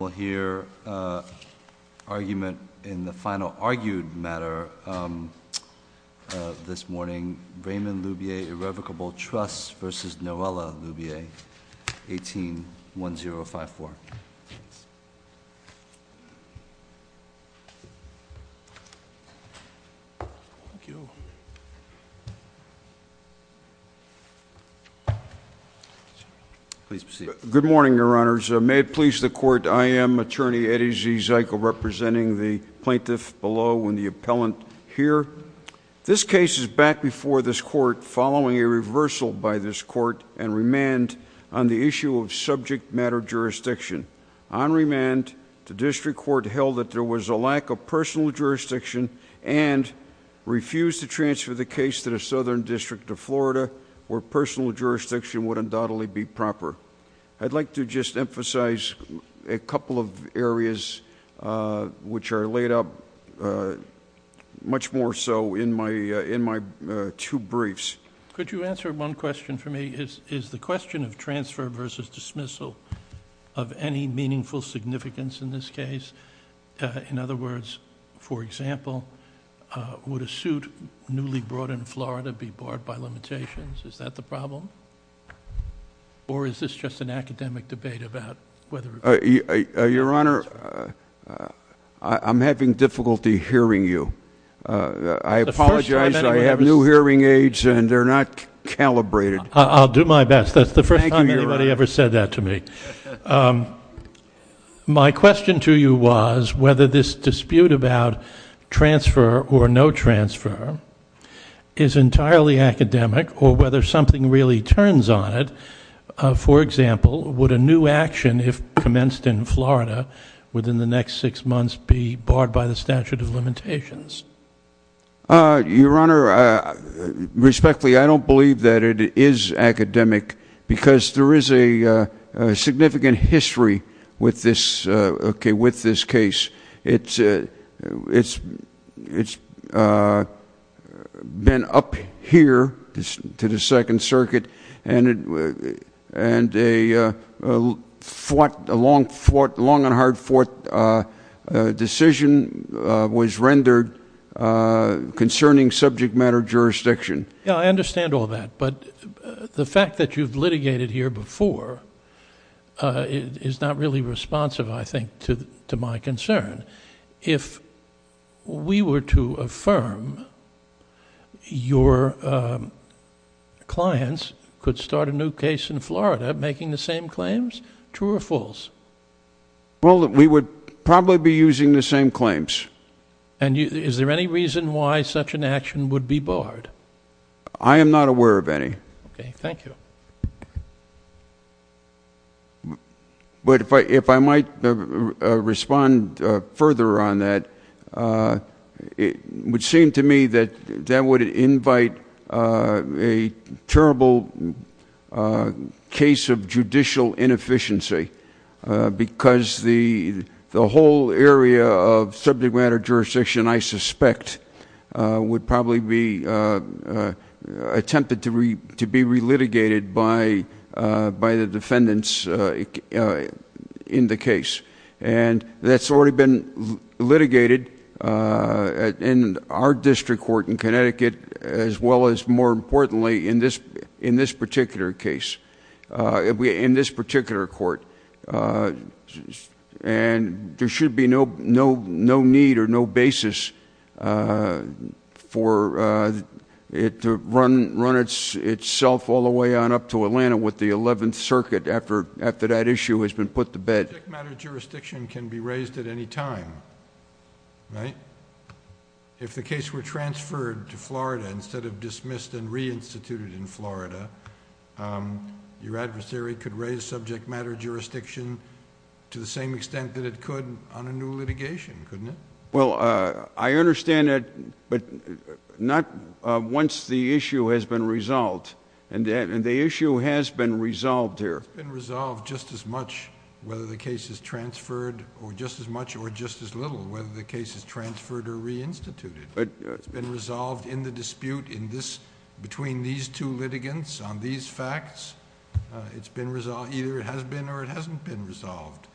We'll hear argument in the final argued matter this morning. Raymond Loubier Irrevocable Trusts versus Noella Loubier, 18-1054. Please proceed. Good morning, your honors. May it please the court, I am attorney Eddie Zykle representing the plaintiff below and the appellant here. This case is back before this court following a reversal by this court and remand on the issue of subject matter jurisdiction. On remand, the district court held that there was a lack of personal jurisdiction and refused to transfer the case to the Southern District of Florida where personal jurisdiction would undoubtedly be proper. I'd like to just emphasize a couple of areas which are laid up much more so in my two briefs. Could you answer one question for me? Is the question of transfer versus dismissal of any meaningful significance in this case? In other words, for example, would a suit newly brought in Florida be barred by limitations? Is that the problem? Or is this just an academic debate about whether or not it's a transfer? Your honor, I'm having difficulty hearing you. I apologize. I have new hearing aids and they're not calibrated. I'll do my best. Thank you, your honor. That's the first time anybody ever said that to me. My question to you was whether this dispute about transfer or no transfer is entirely academic or whether something really turns on it. For example, would a new action if commenced in Florida within the next six months be barred by the statute of limitations? Your honor, respectfully, I don't believe that it is academic because there is a significant history with this case. It's been up here to the Second Circuit and a long and hard-fought decision was rendered concerning subject matter jurisdiction. Yeah, I understand all that, but the fact that you've litigated here before is not really responsive, I think, to my concern. If we were to affirm your clients could start a new case in Florida making the same claims, true or false? Well, we would probably be using the same claims. Is there any reason why such an action would be barred? I am not aware of any. Thank you. But if I might respond further on that, it would seem to me that that would invite a terrible case of judicial inefficiency because the whole area of subject matter jurisdiction, I suspect, would probably be attempted to be re-litigated by the defendants in the case. That's already been litigated in our district court in Connecticut as well as, more importantly, in this particular case, in this particular court. There should be no need or no basis for it to run itself all the way on up to Atlanta with the Eleventh Circuit after that issue has been put to bed. Subject matter jurisdiction can be raised at any time, right? If the case were transferred to Florida instead of dismissed and re-instituted in Florida, your adversary could raise subject matter jurisdiction to the same extent that it could on a new litigation, couldn't it? Well, I understand that, but not once the issue has been resolved, and the issue has been resolved here. It's been resolved just as much whether the case is transferred, or just as much or just as little whether the case is transferred or re-instituted. It's been resolved in the dispute between these two litigants on these facts. It's been resolved, either it has been or it hasn't been resolved.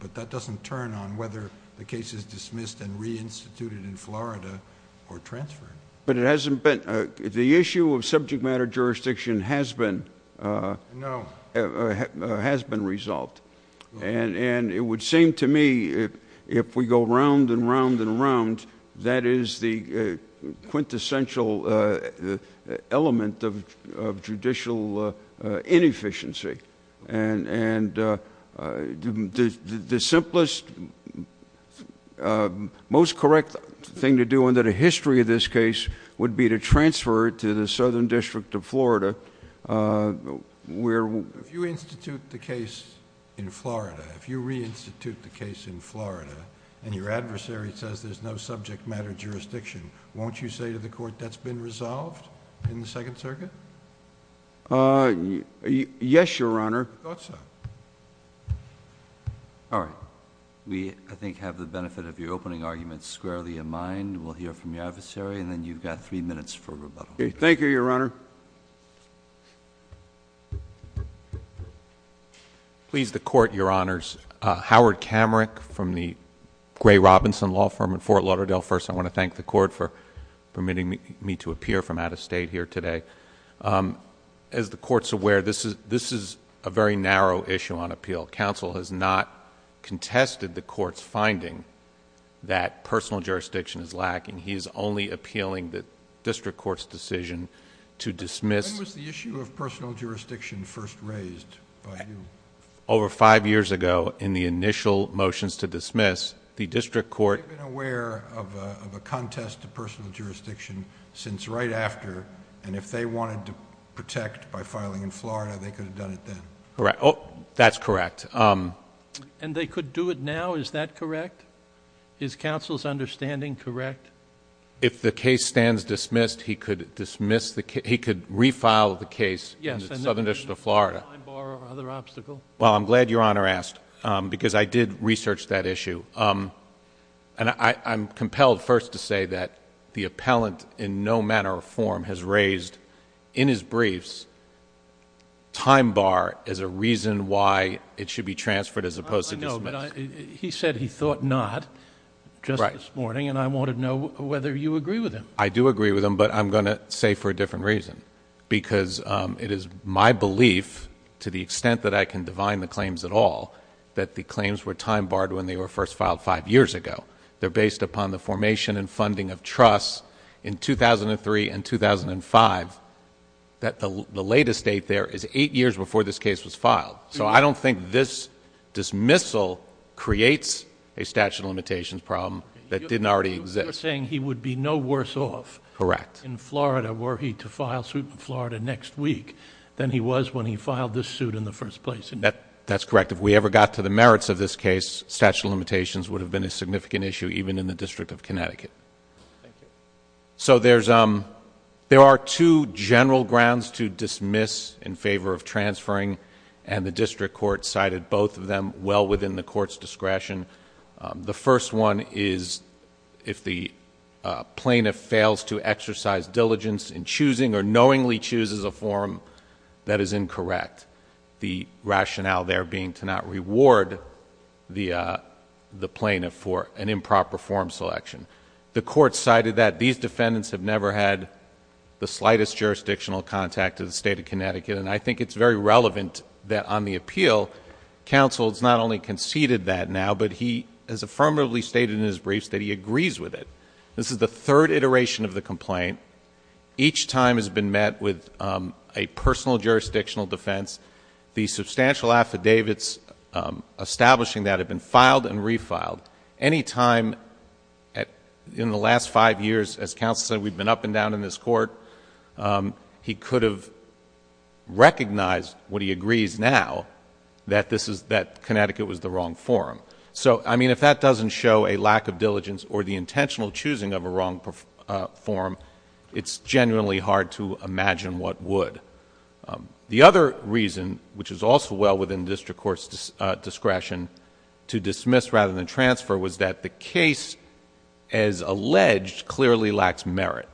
But that doesn't turn on whether the case is dismissed and re-instituted in Florida or transferred. But it hasn't been, the issue of subject matter jurisdiction has been resolved. And it would seem to me if we go round and round and round, that is the quintessential element of judicial inefficiency. And the simplest, most correct thing to do under the history of this case would be to transfer it to the Southern District of Florida, where- In Florida, if you re-institute the case in Florida, and your adversary says there's no subject matter jurisdiction, won't you say to the court, that's been resolved in the Second Circuit? Yes, Your Honor. I thought so. All right, we, I think, have the benefit of your opening argument squarely in mind. We'll hear from your adversary, and then you've got three minutes for rebuttal. Okay, thank you, Your Honor. Please, the court, your honors. Howard Kamarick from the Gray Robinson Law Firm in Fort Lauderdale. First, I want to thank the court for permitting me to appear from out of state here today. As the court's aware, this is a very narrow issue on appeal. Council has not contested the court's finding that personal jurisdiction is lacking. He is only appealing the district court's decision to dismiss- When was the issue of personal jurisdiction first raised by you? Over five years ago, in the initial motions to dismiss, the district court- They've been aware of a contest to personal jurisdiction since right after, and if they wanted to protect by filing in Florida, they could have done it then. That's correct. And they could do it now, is that correct? Is counsel's understanding correct? If the case stands dismissed, he could refile the case in the southern district of Florida. Yes, and there's no time bar or other obstacle? Well, I'm glad your honor asked, because I did research that issue. And I'm compelled first to say that the appellant in no manner or form has raised in his briefs time bar as a reason why it should be transferred as opposed to dismissed. He said he thought not just this morning, and I wanted to know whether you agree with him. I do agree with him, but I'm going to say for a different reason. Because it is my belief, to the extent that I can divine the claims at all, that the claims were time barred when they were first filed five years ago. They're based upon the formation and funding of trust in 2003 and 2005, that the latest date there is eight years before this case was filed. So I don't think this dismissal creates a statute of limitations problem that didn't already exist. You're saying he would be no worse off- Correct. In Florida, were he to file suit in Florida next week, than he was when he filed this suit in the first place. That's correct. If we ever got to the merits of this case, statute of limitations would have been a significant issue, even in the District of Connecticut. Thank you. So there are two general grounds to dismiss in favor of transferring. And the district court cited both of them well within the court's discretion. The first one is if the plaintiff fails to exercise diligence in choosing or knowingly chooses a form that is incorrect. The rationale there being to not reward the plaintiff for an improper form selection. The court cited that these defendants have never had the slightest jurisdictional contact to the state of Connecticut. And I think it's very relevant that on the appeal, counsel has not only conceded that now, but he has affirmatively stated in his briefs that he agrees with it. This is the third iteration of the complaint. Each time has been met with a personal jurisdictional defense. The substantial affidavits establishing that have been filed and refiled. Any time in the last five years, as counsel said, we've been up and down in this court. He could have recognized what he agrees now, that Connecticut was the wrong form. So, I mean, if that doesn't show a lack of diligence or the intentional choosing of a wrong form, it's genuinely hard to imagine what would. The other reason, which is also well within district court's discretion, to dismiss rather than transfer, was that the case, as alleged, clearly lacks merit.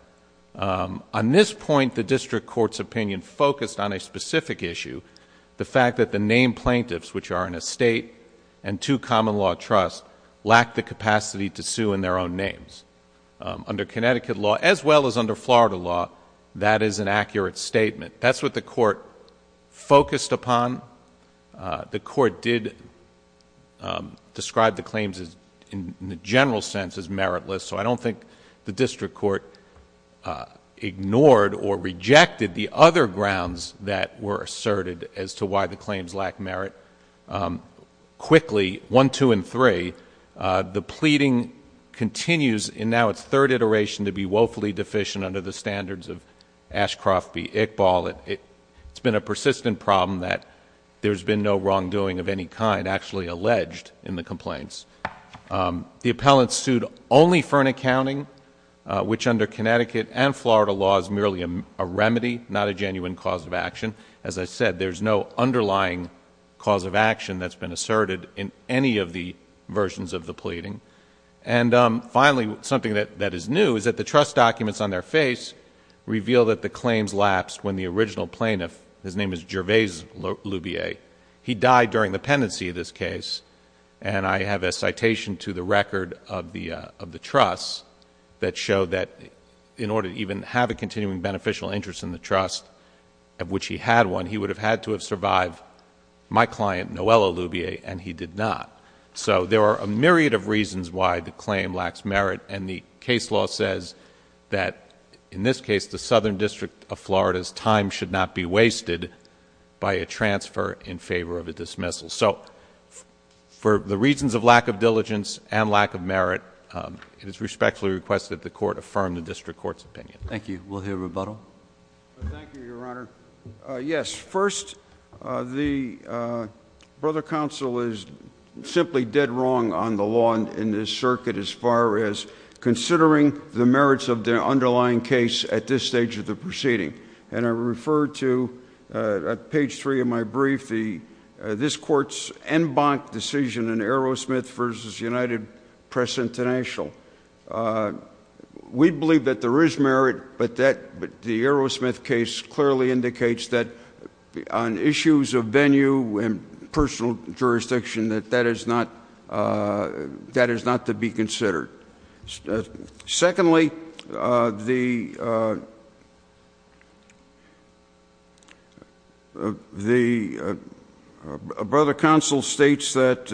On this point, the district court's opinion focused on a specific issue. The fact that the name plaintiffs, which are in a state and two common law trusts, lack the capacity to sue in their own names. Under Connecticut law, as well as under Florida law, that is an accurate statement. That's what the court focused upon. The court did describe the claims in the general sense as meritless, so I don't think the district court ignored or asserted as to why the claims lack merit. Quickly, one, two, and three, the pleading continues in now its third iteration to be woefully deficient under the standards of Ashcroft v. Ickball, it's been a persistent problem that there's been no wrongdoing of any kind actually alleged in the complaints. The appellant sued only for an accounting, which under Connecticut and as I said, there's no underlying cause of action that's been asserted in any of the versions of the pleading. And finally, something that is new is that the trust documents on their face reveal that the claims lapsed when the original plaintiff, his name is Gervais-Lubier, he died during the pendency of this case. And I have a citation to the record of the trust that showed that in order to even have a continuing beneficial interest in the trust, of which he had one, he would have had to have survived my client, Noelle Lubier, and he did not. So there are a myriad of reasons why the claim lacks merit, and the case law says that, in this case, the Southern District of Florida's time should not be wasted by a transfer in favor of a dismissal. So for the reasons of lack of diligence and lack of merit, it is respectfully requested that the court affirm the district court's opinion. Thank you. We'll hear rebuttal. Thank you, your honor. Yes, first, the brother counsel is simply dead wrong on the law in this circuit, as far as considering the merits of the underlying case at this stage of the proceeding. And I refer to, at page three of my brief, this court's en banc decision in Aerosmith versus United Press International. We believe that there is merit, but the Aerosmith case clearly indicates that on issues of venue and personal jurisdiction, that that is not to be considered. Secondly, the brother counsel states that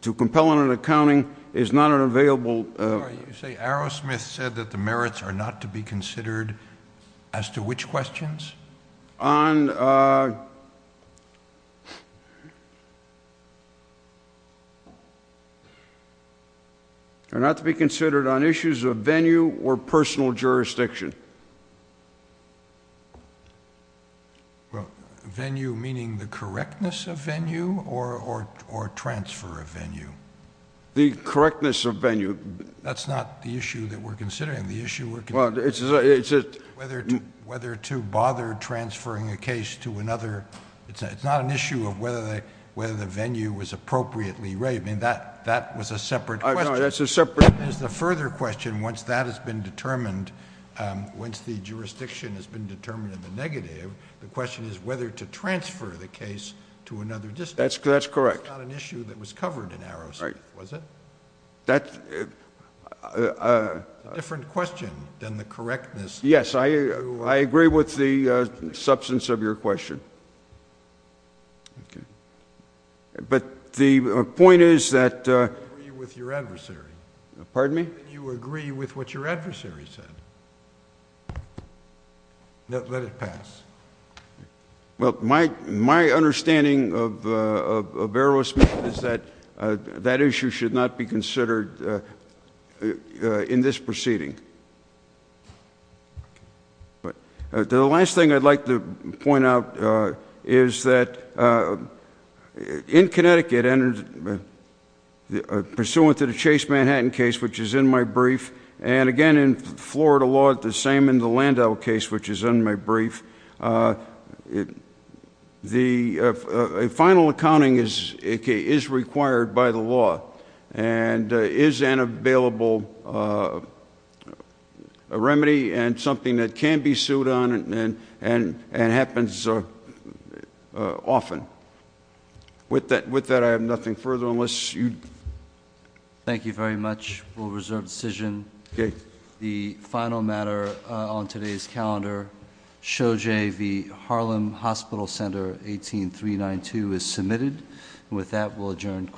to compel an accounting is not an available- Sorry, you say Aerosmith said that the merits are not to be considered as to which questions? On, uh, are not to be considered on issues of venue or personal jurisdiction. Well, venue meaning the correctness of venue, or transfer of venue? The correctness of venue. That's not the issue that we're considering. The issue we're considering is whether to bother transferring a case to another... It's not an issue of whether the venue was appropriately raised. I mean, that was a separate question. No, that's a separate... It is the further question, once that has been determined, once the jurisdiction has been determined in the negative, the question is whether to transfer the case to another district. That's correct. It's not an issue that was covered in Aerosmith, was it? Right. That... It's a different question than the correctness. Yes, I agree with the substance of your question. Okay. But the point is that... You agree with your adversary. Pardon me? You agree with what your adversary said. Let it pass. Well, my understanding of Aerosmith is that that issue should not be considered in this proceeding. But the last thing I'd like to point out is that in Connecticut, pursuant to the Chase Manhattan case, which is in my brief, and again in Florida law, the same in the Landau case, which is in my that can be sued on and happens often. With that, I have nothing further unless you... Thank you very much. We'll reserve the decision. Okay. The final matter on today's calendar, SHOJ v. Harlem Hospital Center, 18392, is submitted. With that, we'll adjourn court.